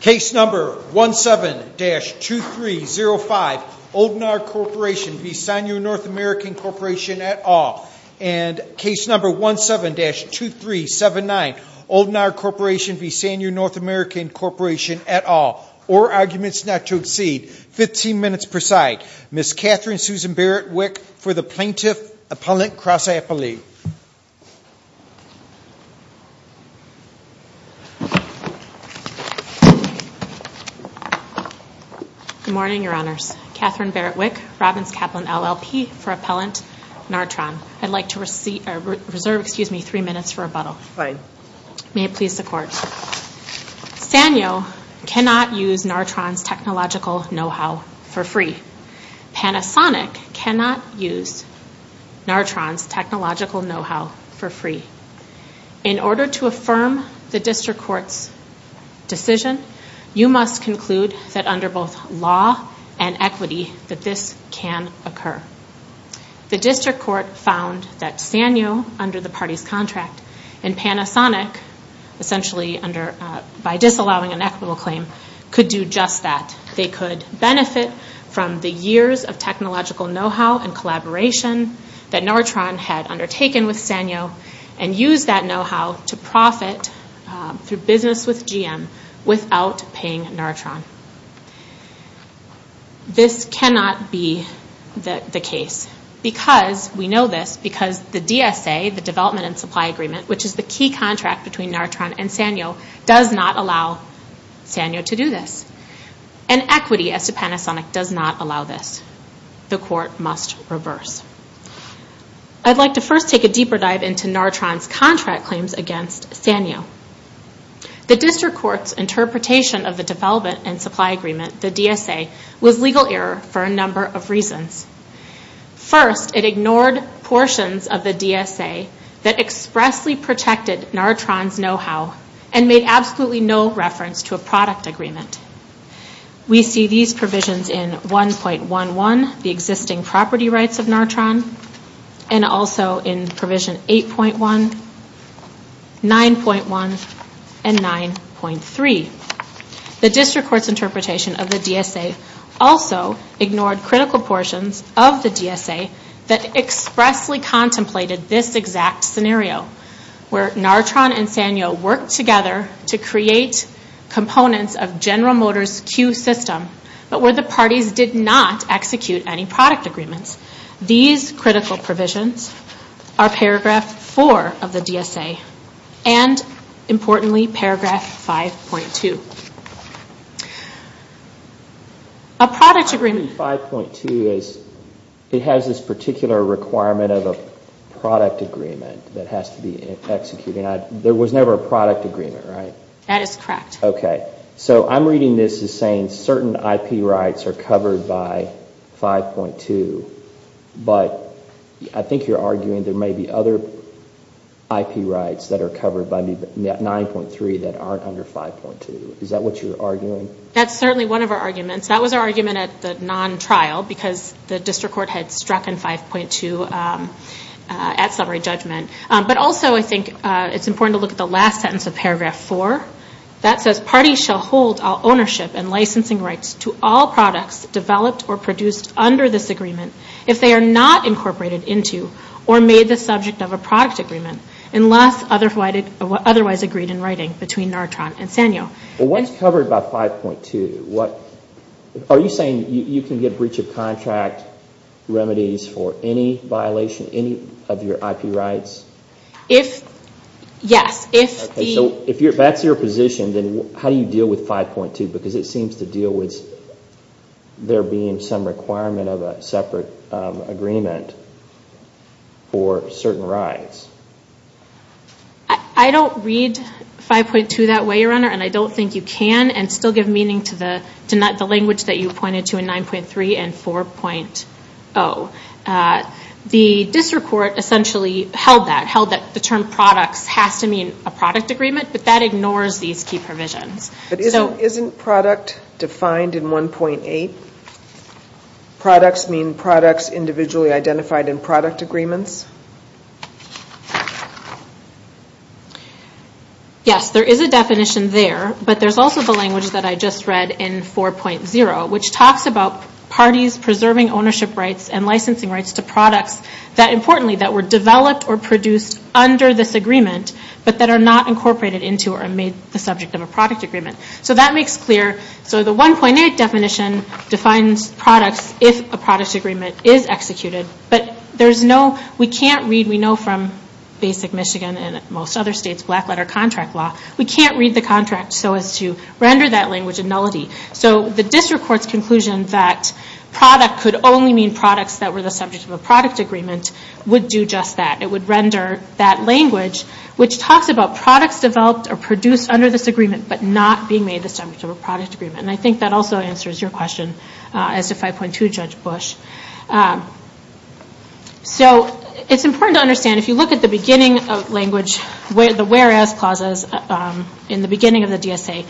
Case number 17-2305 Oldnar Corporation v. Sanyo North American Corporation et al. And case number 17-2379 Oldnar Corporation v. Sanyo North American Corporation et al. All arguments not to exceed 15 minutes per side. Ms. Katherine Susan Barrett Wick for the Plaintiff Appellant Cross-Appley. Good morning, Your Honors. Katherine Barrett Wick, Robbins Kaplan LLP for Appellant Nartron. I'd like to reserve three minutes for rebuttal. May it please the Court. Sanyo cannot use Nartron's technological know-how for free. Panasonic cannot use Nartron's technological know-how for free. In order to affirm the District Court's decision, you must conclude that under both law and equity that this can occur. The District Court found that Sanyo, under the party's contract, and Panasonic, essentially by disallowing an equitable claim, could do just that. They could benefit from the years of technological know-how and collaboration that Nartron had undertaken with Sanyo and use that know-how to profit through business with GM without paying Nartron. This cannot be the case. We know this because the DSA, the Development and Supply Agreement, which is the key contract between Nartron and Sanyo, does not allow Sanyo to do this. And equity, as to Panasonic, does not allow this. The Court must reverse. I'd like to first take a deeper dive into Nartron's contract claims against Sanyo. The District Court's interpretation of the Development and Supply Agreement, the DSA, was legal error for a number of reasons. First, it ignored portions of the DSA that expressly protected Nartron's know-how and made absolutely no reference to a product agreement. We see these provisions in 1.11, the existing property rights of Nartron, and also in provision 8.1, 9.1, and 9.3. The District Court's interpretation of the DSA also ignored critical portions of the DSA that expressly contemplated this exact scenario, where Nartron and Sanyo worked together to create components of General Motors' Q system, but where the parties did not execute any product agreements. These critical provisions are paragraph 4 of the DSA and, importantly, paragraph 5.2. A product agreement. 5.2 has this particular requirement of a product agreement that has to be executed. There was never a product agreement, right? That is correct. Okay. So I'm reading this as saying certain IP rights are covered by 5.2, but I think you're arguing there may be other IP rights that are covered by 9.3 that aren't under 5.2. Is that what you're arguing? That's certainly one of our arguments. That was our argument at the non-trial because the District Court had struck in 5.2 at summary judgment. But also I think it's important to look at the last sentence of paragraph 4. That says, parties shall hold all ownership and licensing rights to all products developed or produced under this agreement if they are not incorporated into or made the subject of a product agreement unless otherwise agreed in writing between Nortron and Sanyo. Well, what's covered by 5.2? Are you saying you can get breach of contract remedies for any violation, any of your IP rights? Yes. So if that's your position, then how do you deal with 5.2? Because it seems to deal with there being some requirement of a separate agreement for certain rights. I don't read 5.2 that way, Your Honor, and I don't think you can and still give meaning to the language that you pointed to in 9.3 and 4.0. The District Court essentially held that, held that the term products has to mean a product agreement, but that ignores these key provisions. But isn't product defined in 1.8? Products mean products individually identified in product agreements? Yes, there is a definition there, but there's also the language that I just read in 4.0, which talks about parties preserving ownership rights and licensing rights to products that importantly that were developed or produced under this agreement, but that are not incorporated into or made the subject of a product agreement. So that makes clear, so the 1.8 definition defines products if a product agreement is executed, but there's no, we can't read, we know from Basic Michigan and most other states, black letter contract law, we can't read the contract so as to render that language a nullity. So the District Court's conclusion that product could only mean products that were the subject of a product agreement would do just that. It would render that language, which talks about products developed or produced under this agreement, but not being made the subject of a product agreement. And I think that also answers your question as to 5.2 Judge Bush. So it's important to understand if you look at the beginning of language, the whereas clauses in the beginning of the DSA,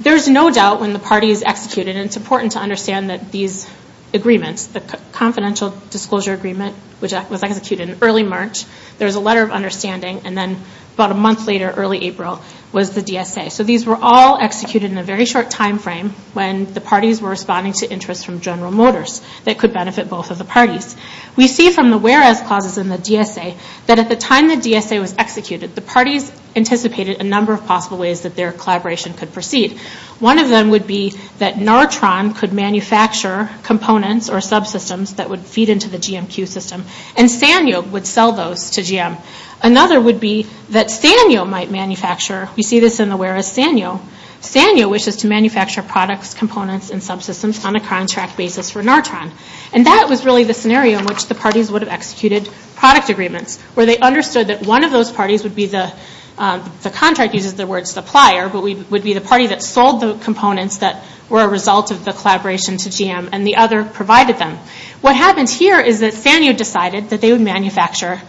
there's no doubt when the party is executed, and it's important to understand that these agreements, the Confidential Disclosure Agreement, which was executed in early March, there was a letter of understanding, and then about a month later, early April, was the DSA. So these were all executed in a very short time frame when the parties were responding to interests from General Motors that could benefit both of the parties. We see from the whereas clauses in the DSA that at the time the DSA was executed, the parties anticipated a number of possible ways that their collaboration could proceed. One of them would be that Nartron could manufacture components or subsystems that would feed into the GMQ system, and Sanyo would sell those to GM. Another would be that Sanyo might manufacture, we see this in the whereas Sanyo, Sanyo wishes to manufacture products, components, and subsystems on a contract basis for Nartron. And that was really the scenario in which the parties would have executed product agreements, where they understood that one of those parties would be the, the contract uses the word supplier, but would be the party that sold the components that were a result of the collaboration to GM, and the other provided them. What happens here is that Sanyo decided that they would manufacture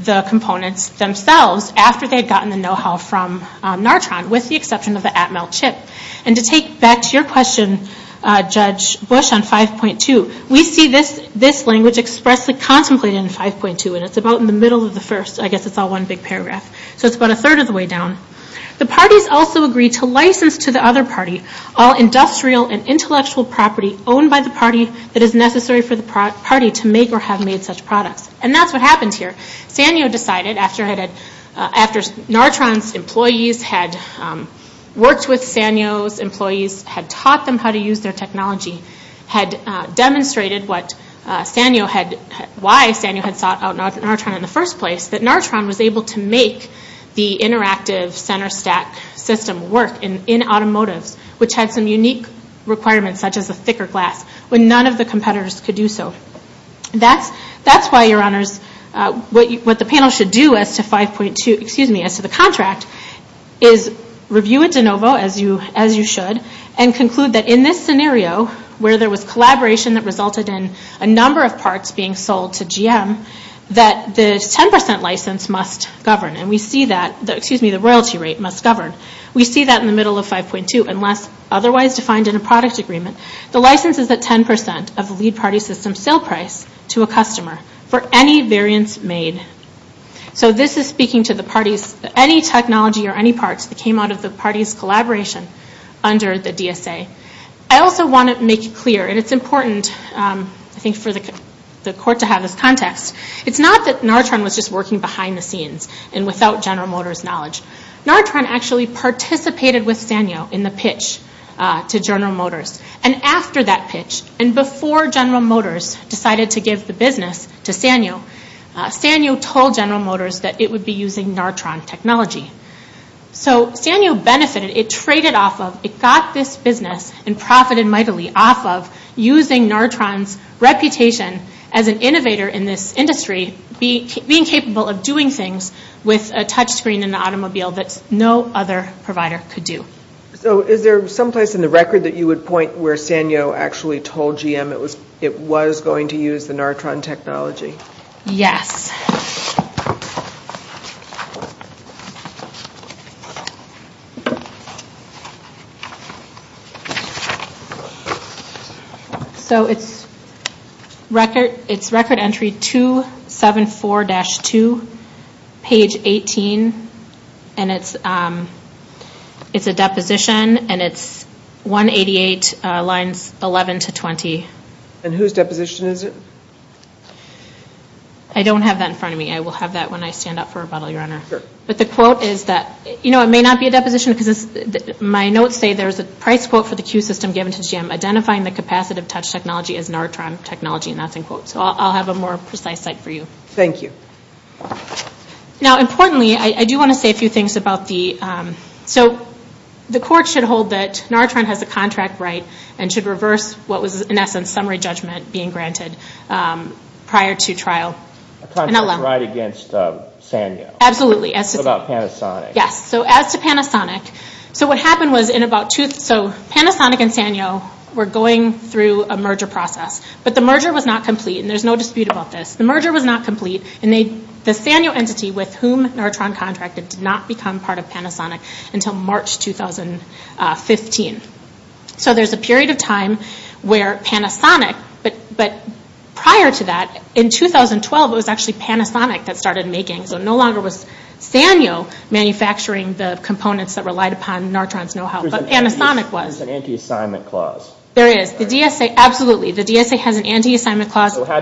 the components themselves after they had gotten the know-how from Nartron, with the exception of the Atmel chip. And to take back to your question, Judge Bush, on 5.2, we see this language expressly contemplated in 5.2, and it's about in the middle of the first, I guess it's all one big paragraph. So it's about a third of the way down. The parties also agree to license to the other party all industrial and intellectual property owned by the party that is necessary for the party to make or have made such products. And that's what happens here. Sanyo decided, after Nartron's employees had worked with Sanyo's employees, had taught them how to use their technology, had demonstrated what Sanyo had, why Sanyo had sought out Nartron in the first place, that Nartron was able to make the interactive center stack system work in automotives, which had some unique requirements, such as a thicker glass, when none of the competitors could do so. That's why, Your Honors, what the panel should do as to the contract is review it de novo, as you should, and conclude that in this scenario, where there was collaboration that resulted in a number of parts being sold to GM, that the royalty rate must govern. We see that in the middle of 5.2 unless otherwise defined in a product agreement. The license is at 10% of the lead party system sale price to a customer for any variance made. So this is speaking to any technology or any parts that came out of the party's collaboration under the DSA. I also want to make it clear, and it's important for the court to have this context, it's not that Nartron was just working behind the scenes and without General Motors' knowledge. Nartron actually participated with Sanyo in the pitch to General Motors. And after that pitch, and before General Motors decided to give the business to Sanyo, Sanyo told General Motors that it would be using Nartron technology. So Sanyo benefited, it traded off of, it got this business and profited mightily off of using Nartron's reputation as an innovator in this industry, being capable of doing things with a touch screen in an automobile that no other provider could do. So is there someplace in the record that you would point where Sanyo actually told GM it was going to use the Nartron technology? Yes. So it's record entry 274-2, page 18, and it's a deposition, and it's 188 lines 11 to 20. And whose deposition is it? I don't have that in front of me. I will have that when I stand up for rebuttal, Your Honor. But the quote is that, you know, it may not be a deposition because my notes say there's a price quote for the Q system given to GM, identifying the capacitive touch technology as Nartron technology, and that's in quotes. So I'll have a more precise cite for you. Thank you. Now importantly, I do want to say a few things about the, so the court should hold that Nartron has the contract right and should reverse what was, in essence, summary judgment being granted prior to trial. A contract right against Sanyo. Absolutely. What about Panasonic? Yes. So as to Panasonic, so what happened was in about two, so Panasonic and Sanyo were going through a merger process, but the merger was not complete, and there's no dispute about this. The merger was not complete, and the Sanyo entity with whom Nartron contracted did not become part of Panasonic until March 2015. So there's a period of time where Panasonic, but prior to that, in 2012 it was actually Panasonic that started making, so it no longer was Sanyo manufacturing the components that relied upon Nartron's know-how, but Panasonic was. There's an anti-assignment clause. There is. The DSA, absolutely, the DSA has an anti-assignment clause. So how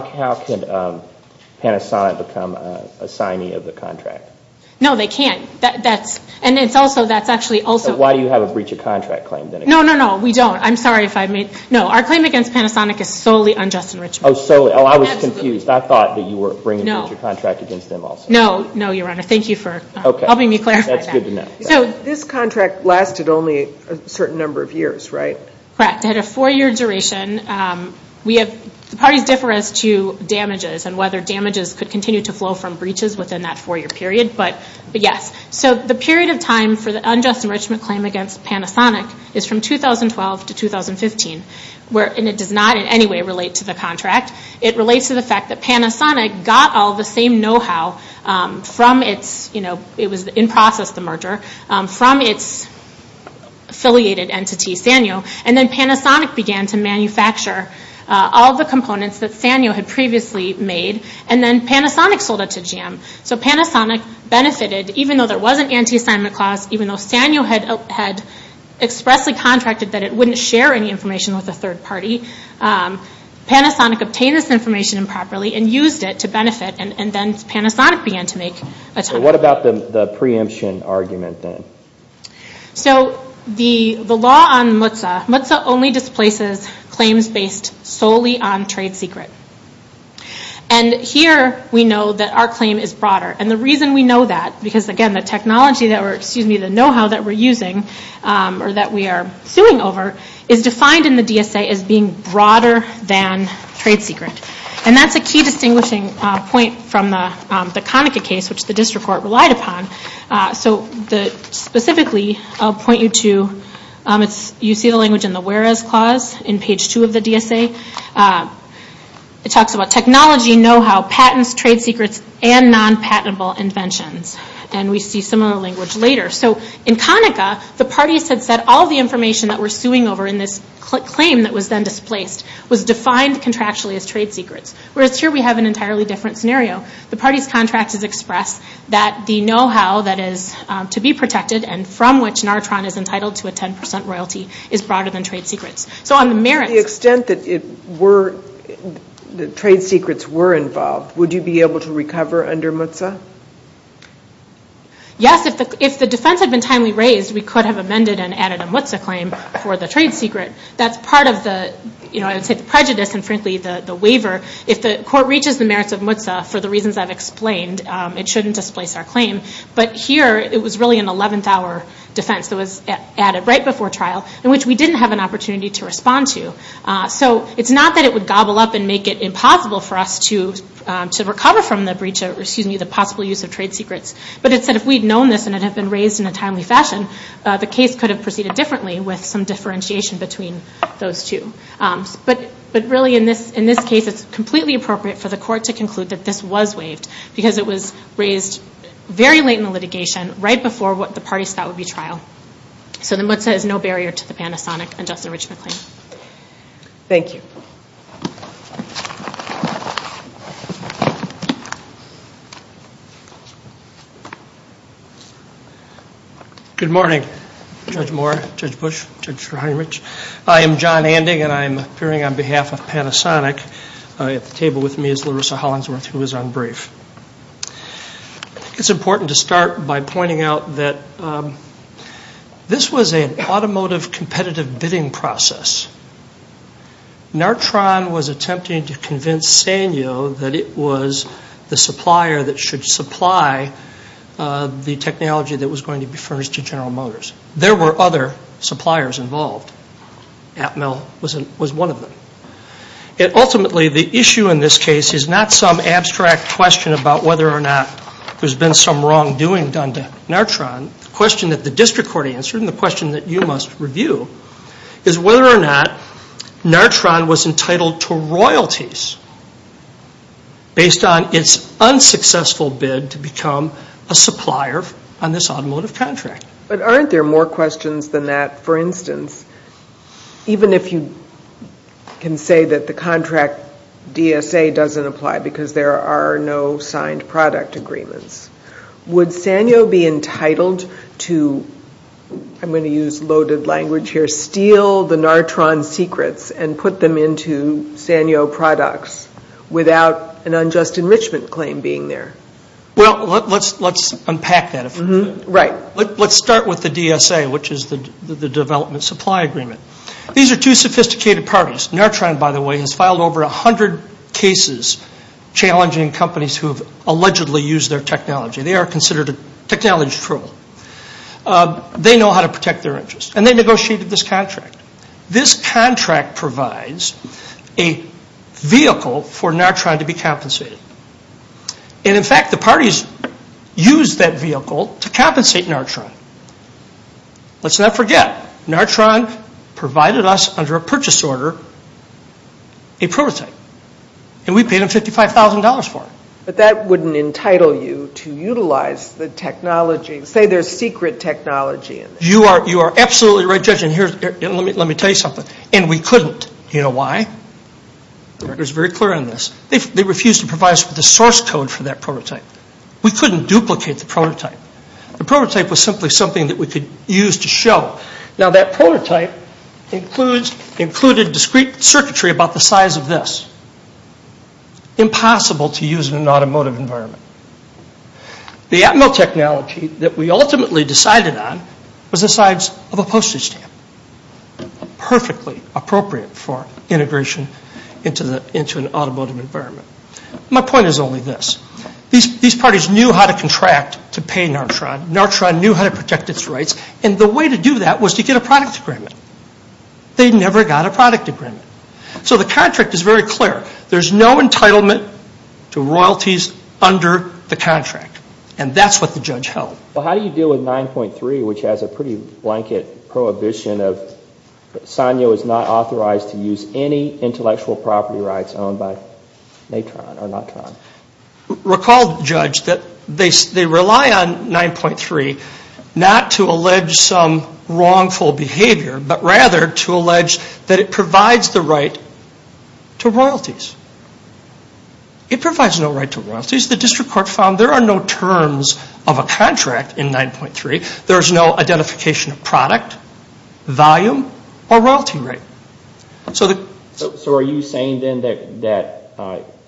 can Panasonic become an assignee of the contract? No, they can't. That's, and it's also, that's actually also. Why do you have a breach of contract claim then? No, no, no, we don't. I'm sorry if I made, no. Our claim against Panasonic is solely unjust enrichment. Oh, solely. Oh, I was confused. I thought that you were bringing a breach of contract against them also. No, no, Your Honor. Thank you for helping me clarify that. That's good to know. So this contract lasted only a certain number of years, right? Correct. It had a four-year duration. We have, the parties differ as to damages and whether damages could continue to flow from breaches within that four-year period, but yes. So the period of time for the unjust enrichment claim against Panasonic is from 2012 to 2015. And it does not in any way relate to the contract. It relates to the fact that Panasonic got all the same know-how from its, it was in process, the merger, from its affiliated entity, Sanyo, and then Panasonic began to manufacture all the components that Sanyo had previously made, and then Panasonic sold it to GM. So Panasonic benefited, even though there was an anti-assignment clause, even though Sanyo had expressly contracted that it wouldn't share any information with a third party, Panasonic obtained this information improperly and used it to benefit, and then Panasonic began to make a timeout. What about the preemption argument then? So the law on MUTSA, MUTSA only displaces claims based solely on trade secret. And here we know that our claim is broader. And the reason we know that, because again, the technology that we're, excuse me, the know-how that we're using, or that we are suing over, is defined in the DSA as being broader than trade secret. And that's a key distinguishing point from the Konica case, which the district court relied upon. So specifically, I'll point you to, you see the language in the whereas clause in page two of the DSA. It talks about technology, know-how, patents, trade secrets, and non-patentable inventions. And we see similar language later. So in Konica, the parties had said all the information that we're suing over in this claim that was then displaced was defined contractually as trade secrets. Whereas here we have an entirely different scenario. The party's contract has expressed that the know-how that is to be protected and from which Nartron is entitled to a 10% royalty is broader than trade secrets. So on the merits. The extent that it were, the trade secrets were involved, would you be able to recover under MUTSA? Yes, if the defense had been timely raised, we could have amended and added a MUTSA claim for the trade secret. That's part of the, you know, I would say the prejudice and frankly the waiver. If the court reaches the merits of MUTSA, for the reasons I've explained, it shouldn't displace our claim. But here, it was really an 11th hour defense that was added right before trial, in which we didn't have an opportunity to respond to. So it's not that it would gobble up and make it impossible for us to recover from the breach, excuse me, the possible use of trade secrets. But it's that if we'd known this and it had been raised in a timely fashion, the case could have proceeded differently with some differentiation between those two. But really in this case, it's completely appropriate for the court to conclude that this was waived because it was raised very late in the litigation, right before what the parties thought would be trial. So the MUTSA is no barrier to the Panasonic and Justin Richman claim. Thank you. Good morning, Judge Moore, Judge Bush, Judge Heinrich. I am John Anding, and I'm appearing on behalf of Panasonic. At the table with me is Larissa Hollingsworth, who is on brief. It's important to start by pointing out that this was an automotive competitive bidding process. Nartron was attempting to convince Sanyo that it was the supplier that should supply the technology that was going to be furnished to General Motors. There were other suppliers involved. Atmel was one of them. Ultimately, the issue in this case is not some abstract question about whether or not there's been some wrongdoing done to Nartron. The question that the district court answered and the question that you must review is whether or not Nartron was entitled to royalties based on its unsuccessful bid to become a supplier on this automotive contract. But aren't there more questions than that? For instance, even if you can say that the contract DSA doesn't apply because there are no signed product agreements, would Sanyo be entitled to, I'm going to use loaded language here, steal the Nartron secrets and put them into Sanyo products without an unjust enrichment claim being there? Well, let's unpack that. Right. Let's start with the DSA, which is the development supply agreement. These are two sophisticated parties. Nartron, by the way, has filed over 100 cases challenging companies who have allegedly used their technology. They are considered a technology troll. They know how to protect their interests and they negotiated this contract. This contract provides a vehicle for Nartron to be compensated. And, in fact, the parties used that vehicle to compensate Nartron. Let's not forget, Nartron provided us under a purchase order a prototype and we paid them $55,000 for it. But that wouldn't entitle you to utilize the technology, say their secret technology. You are absolutely right, Judge, and let me tell you something. And we couldn't. Do you know why? The record is very clear on this. They refused to provide us with the source code for that prototype. We couldn't duplicate the prototype. The prototype was simply something that we could use to show. Now, that prototype included discrete circuitry about the size of this, impossible to use in an automotive environment. The Atmel technology that we ultimately decided on was the size of a postage stamp, perfectly appropriate for integration into an automotive environment. My point is only this. These parties knew how to contract to pay Nartron. Nartron knew how to protect its rights. And the way to do that was to get a product agreement. They never got a product agreement. So the contract is very clear. There's no entitlement to royalties under the contract. And that's what the judge held. Well, how do you deal with 9.3, which has a pretty blanket prohibition of Sanyo is not authorized to use any intellectual property rights owned by Natron or Nartron? Recall, Judge, that they rely on 9.3 not to allege some wrongful behavior, but rather to allege that it provides the right to royalties. It provides no right to royalties. The district court found there are no terms of a contract in 9.3. There's no identification of product, volume, or royalty rate. So are you saying then that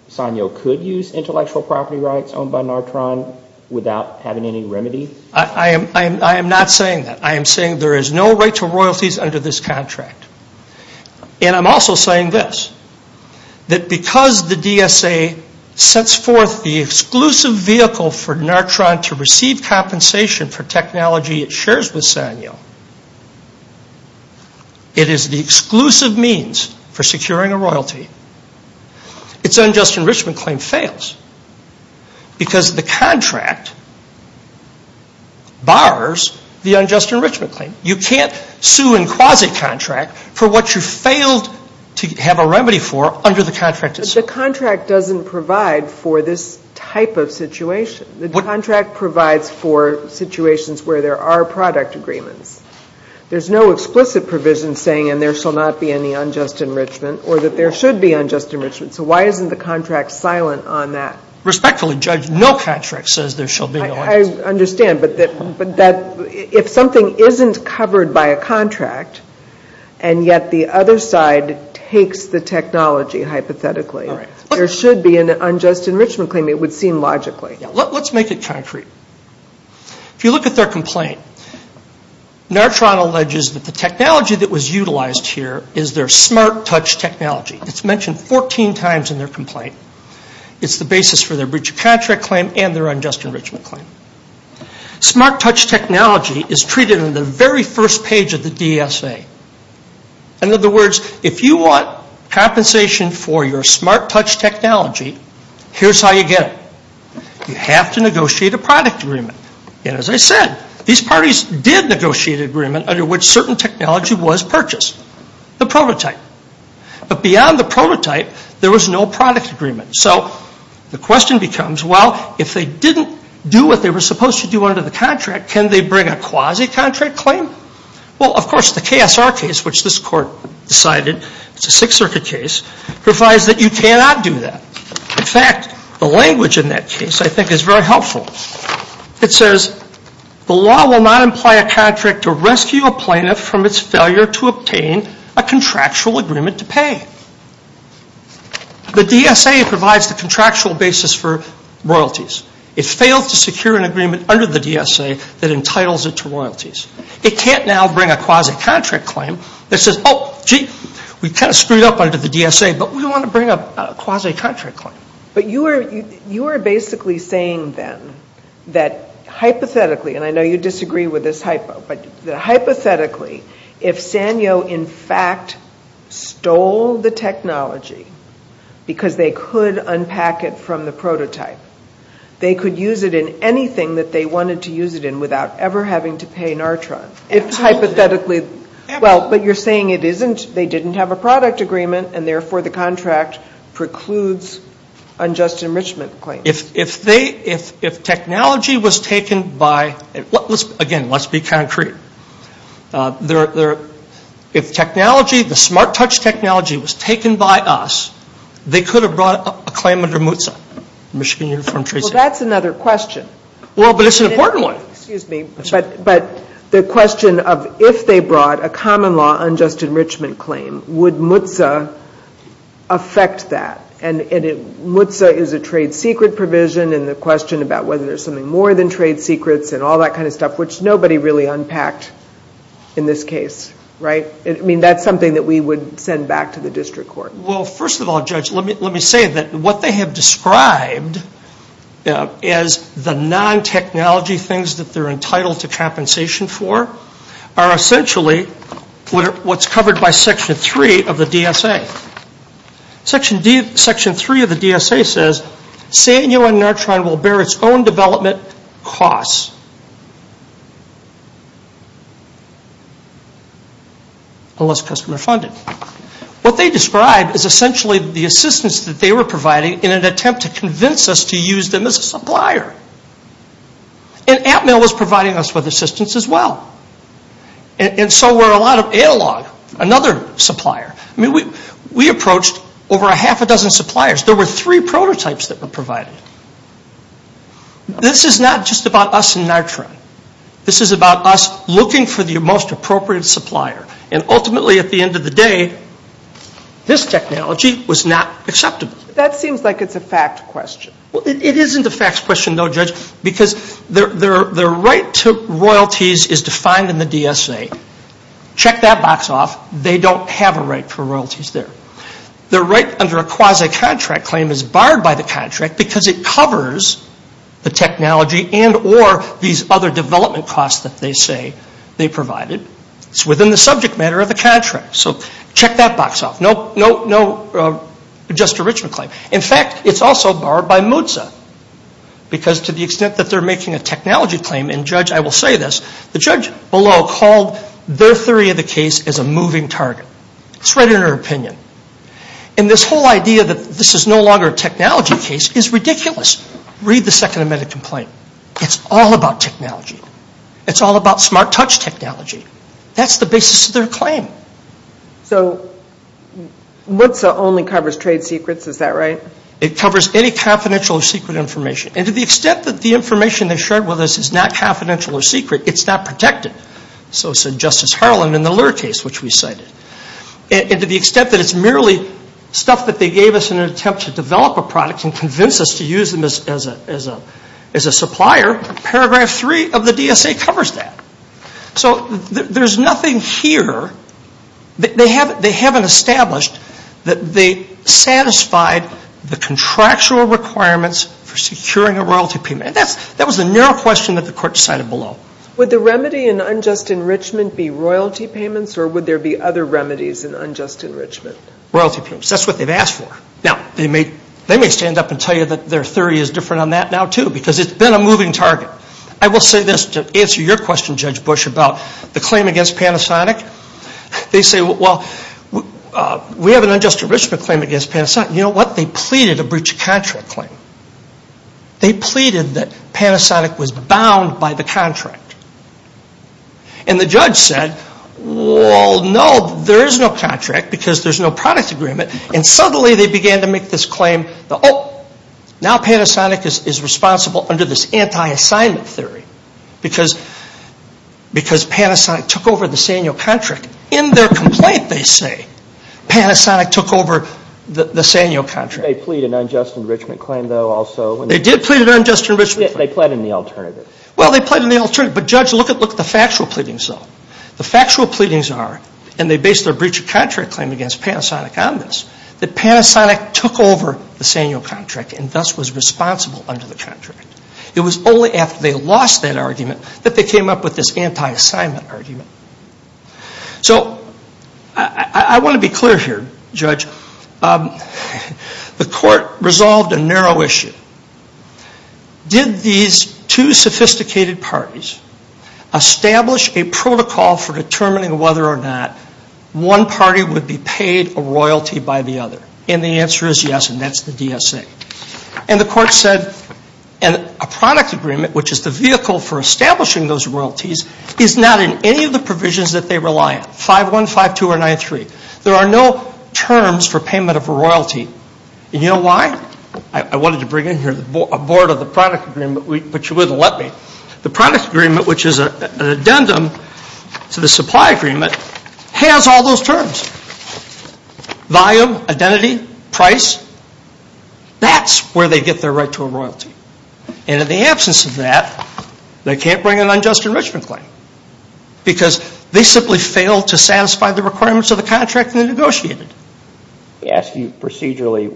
Sanyo could use intellectual property rights owned by Nartron without having any remedy? I am not saying that. I am saying there is no right to royalties under this contract. And I'm also saying this, that because the DSA sets forth the exclusive vehicle for Nartron to receive compensation for technology it shares with Sanyo, it is the exclusive means for securing a royalty. Its unjust enrichment claim fails because the contract bars the unjust enrichment claim. You can't sue in quasi-contract for what you failed to have a remedy for under the contract itself. But the contract doesn't provide for this type of situation. The contract provides for situations where there are product agreements. There's no explicit provision saying, and there shall not be any unjust enrichment, or that there should be unjust enrichment. So why isn't the contract silent on that? I understand, but if something isn't covered by a contract and yet the other side takes the technology hypothetically, there should be an unjust enrichment claim, it would seem logically. Let's make it concrete. If you look at their complaint, Nartron alleges that the technology that was utilized here is their smart touch technology. It's mentioned 14 times in their complaint. It's the basis for their breach of contract claim and their unjust enrichment claim. Smart touch technology is treated in the very first page of the DSA. In other words, if you want compensation for your smart touch technology, here's how you get it. You have to negotiate a product agreement. And as I said, these parties did negotiate an agreement under which certain technology was purchased, the prototype. But beyond the prototype, there was no product agreement. So the question becomes, well, if they didn't do what they were supposed to do under the contract, can they bring a quasi-contract claim? Well, of course, the KSR case, which this court decided is a Sixth Circuit case, provides that you cannot do that. In fact, the language in that case I think is very helpful. It says, the law will not imply a contract to rescue a plaintiff from its failure to obtain a contractual agreement to pay. The DSA provides the contractual basis for royalties. It failed to secure an agreement under the DSA that entitles it to royalties. It can't now bring a quasi-contract claim that says, oh, gee, we kind of screwed up under the DSA, but we want to bring a quasi-contract claim. But you are basically saying, then, that hypothetically, and I know you disagree with this hypo, but hypothetically, if Sanyo, in fact, stole the technology because they could unpack it from the prototype, they could use it in anything that they wanted to use it in without ever having to pay NARTRA. If hypothetically, well, but you're saying it isn't, they didn't have a product agreement, and therefore the contract precludes unjust enrichment claims. If they, if technology was taken by, again, let's be concrete. If technology, the smart touch technology was taken by us, they could have brought a claim under MUTSA, Michigan Uniform Tracing Act. Well, that's another question. Well, but it's an important one. Excuse me, but the question of if they brought a common law unjust enrichment claim, would MUTSA affect that? And MUTSA is a trade secret provision, and the question about whether there's something more than trade secrets and all that kind of stuff, which nobody really unpacked in this case, right? I mean, that's something that we would send back to the district court. Well, first of all, Judge, let me say that what they have described as the non-technology things that they're entitled to compensation for are essentially what's covered by Section 3 of the DSA. Section 3 of the DSA says, Sanyo and Nartron will bear its own development costs unless customer funded. What they describe is essentially the assistance that they were providing in an attempt to convince us to use them as a supplier. And Atmel was providing us with assistance as well. And so we're a lot of analog, another supplier. I mean, we approached over a half a dozen suppliers. There were three prototypes that were provided. This is not just about us and Nartron. This is about us looking for the most appropriate supplier. And ultimately, at the end of the day, this technology was not acceptable. That seems like it's a fact question. Well, it isn't a facts question, though, Judge, because their right to royalties is defined in the DSA. Check that box off. They don't have a right for royalties there. Their right under a quasi-contract claim is barred by the contract because it covers the technology and or these other development costs that they say they provided. It's within the subject matter of the contract. So check that box off. No just enrichment claim. In fact, it's also barred by MUTSA because to the extent that they're making a technology claim, and, Judge, I will say this, the judge below called their theory of the case as a moving target. It's right in their opinion. And this whole idea that this is no longer a technology case is ridiculous. Read the second amended complaint. It's all about technology. It's all about smart touch technology. That's the basis of their claim. So MUTSA only covers trade secrets. Is that right? It covers any confidential or secret information. And to the extent that the information they shared with us is not confidential or secret, it's not protected. So said Justice Harlan in the lure case which we cited. And to the extent that it's merely stuff that they gave us in an attempt to develop a product and convince us to use them as a supplier, paragraph three of the DSA covers that. So there's nothing here. They haven't established that they satisfied the contractual requirements for securing a royalty payment. And that was the narrow question that the court decided below. Would the remedy in unjust enrichment be royalty payments or would there be other remedies in unjust enrichment? Royalty payments. That's what they've asked for. Now, they may stand up and tell you that their theory is different on that now too because it's been a moving target. I will say this to answer your question, Judge Bush, about the claim against Panasonic. They say, well, we have an unjust enrichment claim against Panasonic. You know what? They pleaded a breach of contract claim. They pleaded that Panasonic was bound by the contract. And the judge said, well, no, there is no contract because there's no product agreement. And suddenly they began to make this claim that, oh, now Panasonic is responsible under this anti-assignment theory because Panasonic took over the Sanyo contract. In their complaint, they say, Panasonic took over the Sanyo contract. They pleaded an unjust enrichment claim, though, also. They did plead an unjust enrichment claim. They pled in the alternative. Well, they pled in the alternative. But, Judge, look at the factual pleadings, though. The factual pleadings are, and they base their breach of contract claim against Panasonic on this, that Panasonic took over the Sanyo contract and thus was responsible under the contract. It was only after they lost that argument that they came up with this anti-assignment argument. So I want to be clear here, Judge. The court resolved a narrow issue. Did these two sophisticated parties establish a protocol for determining whether or not one party would be paid a royalty by the other? And the answer is yes, and that's the DSA. And the court said a product agreement, which is the vehicle for establishing those royalties, is not in any of the provisions that they rely on, 5.1, 5.2, or 9.3. There are no terms for payment of a royalty. And you know why? I wanted to bring in here a board of the product agreement, but you wouldn't let me. The product agreement, which is an addendum to the supply agreement, has all those terms. Volume, identity, price, that's where they get their right to a royalty. And in the absence of that, they can't bring an unjust enrichment claim because they simply failed to satisfy the requirements of the contract they negotiated. Let me ask you procedurally,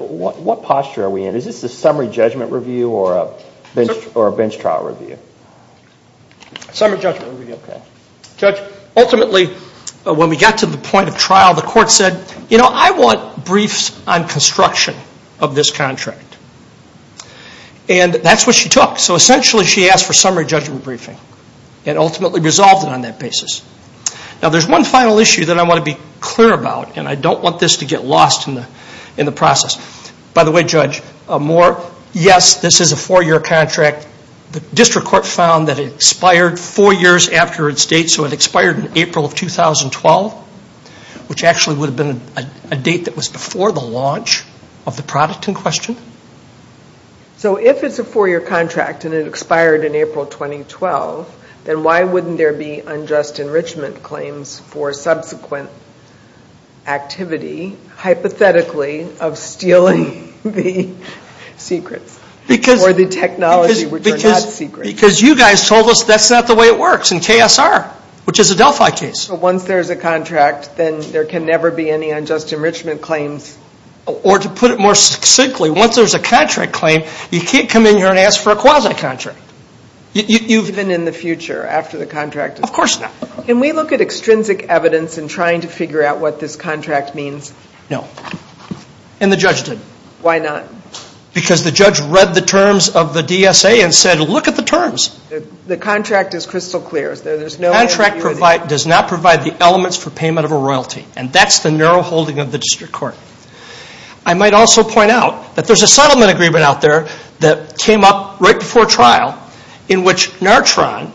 what posture are we in? Is this a summary judgment review or a bench trial review? Summary judgment review. Judge, ultimately, when we got to the point of trial, the court said, you know, I want briefs on construction of this contract. And that's what she took. So essentially she asked for summary judgment briefing and ultimately resolved it on that basis. Now, there's one final issue that I want to be clear about, and I don't want this to get lost in the process. By the way, Judge Moore, yes, this is a four-year contract. The district court found that it expired four years after its date, so it expired in April of 2012, which actually would have been a date that was before the launch of the product in question. So if it's a four-year contract and it expired in April 2012, then why wouldn't there be unjust enrichment claims for subsequent activity, hypothetically, of stealing the secrets or the technology which are not secrets? Because you guys told us that's not the way it works in KSR, which is a Delphi case. Once there's a contract, then there can never be any unjust enrichment claims. Or to put it more succinctly, once there's a contract claim, you can't come in here and ask for a quasi-contract. Even in the future, after the contract? Of course not. Can we look at extrinsic evidence in trying to figure out what this contract means? No. And the judge did. Why not? Because the judge read the terms of the DSA and said, look at the terms. The contract is crystal clear. The contract does not provide the elements for payment of a royalty, and that's the narrow holding of the district court. I might also point out that there's a settlement agreement out there that came up right before trial in which Nartron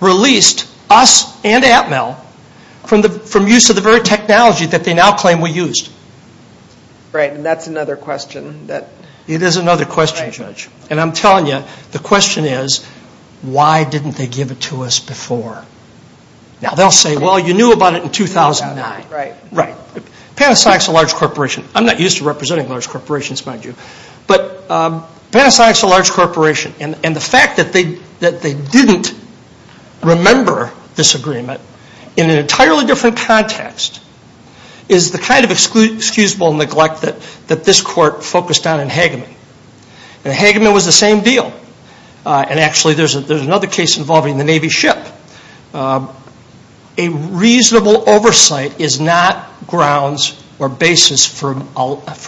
released us and Atmel from use of the very technology that they now claim we used. Right. And that's another question. It is another question, Judge. And I'm telling you, the question is, why didn't they give it to us before? Now, they'll say, well, you knew about it in 2009. Right. Panasonic's a large corporation. I'm not used to representing large corporations, mind you. But Panasonic's a large corporation, and the fact that they didn't remember this agreement in an entirely different context is the kind of excusable neglect that this court focused on in Hageman. And Hageman was the same deal. And actually, there's another case involving the Navy ship. A reasonable oversight is not grounds or basis for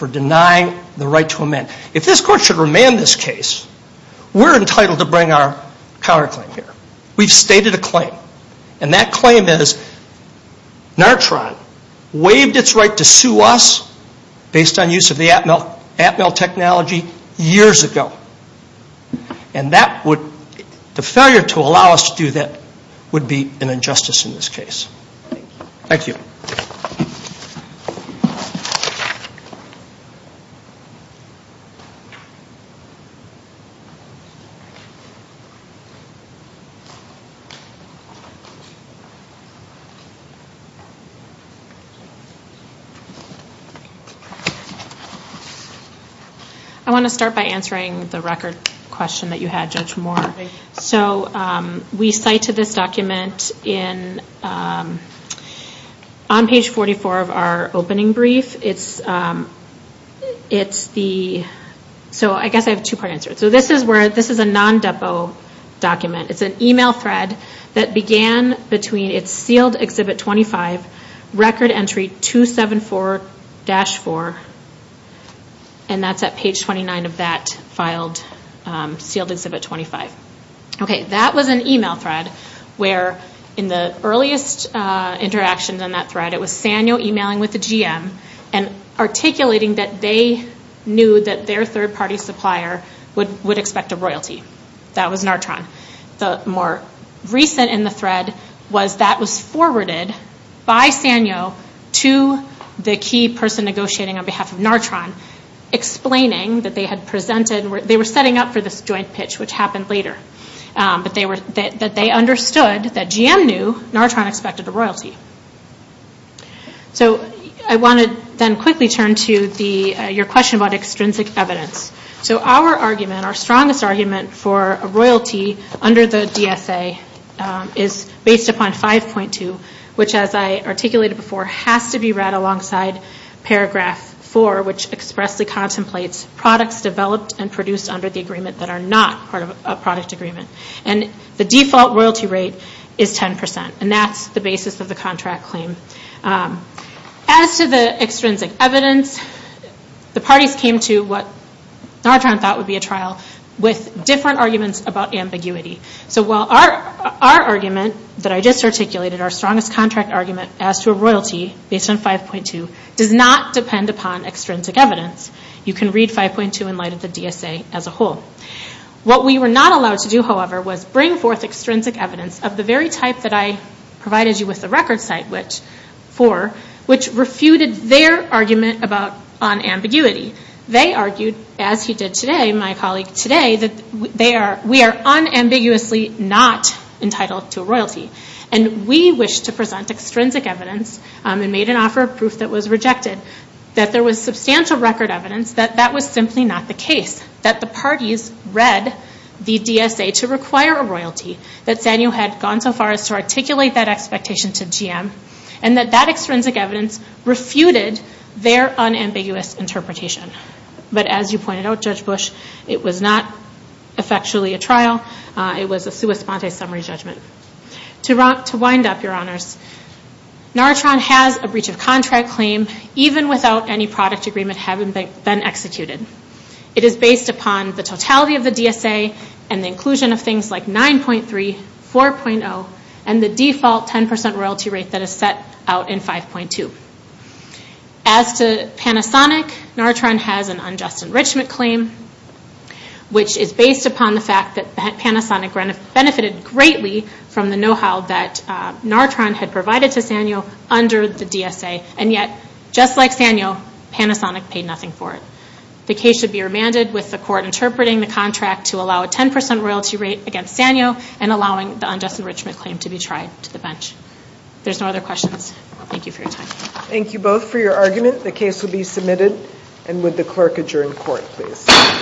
denying the right to amend. If this court should remand this case, we're entitled to bring our counterclaim here. We've stated a claim, and that claim is Nartron waived its right to sue us based on use of the Atmel technology years ago. And the failure to allow us to do that would be an injustice in this case. Thank you. Thank you. I want to start by answering the record question that you had, Judge Moore. Okay. On page 44 of our opening brief, it's the... So I guess I have a two-part answer. So this is a non-depo document. It's an email thread that began between its sealed Exhibit 25, record entry 274-4, and that's at page 29 of that sealed Exhibit 25. That was an email thread where, in the earliest interactions on that thread, it was Sanyo emailing with the GM and articulating that they knew that their third-party supplier would expect a royalty. That was Nartron. The more recent in the thread was that was forwarded by Sanyo to the key person negotiating on behalf of Nartron, explaining that they had presented... which happened later, that they understood that GM knew Nartron expected a royalty. So I want to then quickly turn to your question about extrinsic evidence. So our argument, our strongest argument for a royalty under the DSA, is based upon 5.2, which, as I articulated before, has to be read alongside paragraph 4, which expressly contemplates products developed and produced under the agreement that are not part of a product agreement. The default royalty rate is 10%, and that's the basis of the contract claim. As to the extrinsic evidence, the parties came to what Nartron thought would be a trial with different arguments about ambiguity. So while our argument that I just articulated, our strongest contract argument, as to a royalty based on 5.2, does not depend upon extrinsic evidence. You can read 5.2 in light of the DSA as a whole. What we were not allowed to do, however, was bring forth extrinsic evidence of the very type that I provided you with the record site for, which refuted their argument on ambiguity. They argued, as he did today, my colleague today, that we are unambiguously not entitled to a royalty. And we wish to present extrinsic evidence, and made an offer of proof that was rejected, that there was substantial record evidence that that was simply not the case, that the parties read the DSA to require a royalty, that Sanyo had gone so far as to articulate that expectation to GM, and that that extrinsic evidence refuted their unambiguous interpretation. But as you pointed out, Judge Bush, it was not effectually a trial. It was a sua sponte summary judgment. To wind up, your honors, NARATRON has a breach of contract claim even without any product agreement having been executed. It is based upon the totality of the DSA and the inclusion of things like 9.3, 4.0, and the default 10% royalty rate that is set out in 5.2. As to Panasonic, NARATRON has an unjust enrichment claim, which is based upon the fact that Panasonic benefited greatly from the know-how that NARATRON had provided to Sanyo under the DSA. And yet, just like Sanyo, Panasonic paid nothing for it. The case should be remanded with the court interpreting the contract to allow a 10% royalty rate against Sanyo and allowing the unjust enrichment claim to be tried to the bench. There's no other questions. Thank you for your time. Thank you both for your argument. The case will be submitted, and would the clerk adjourn court, please.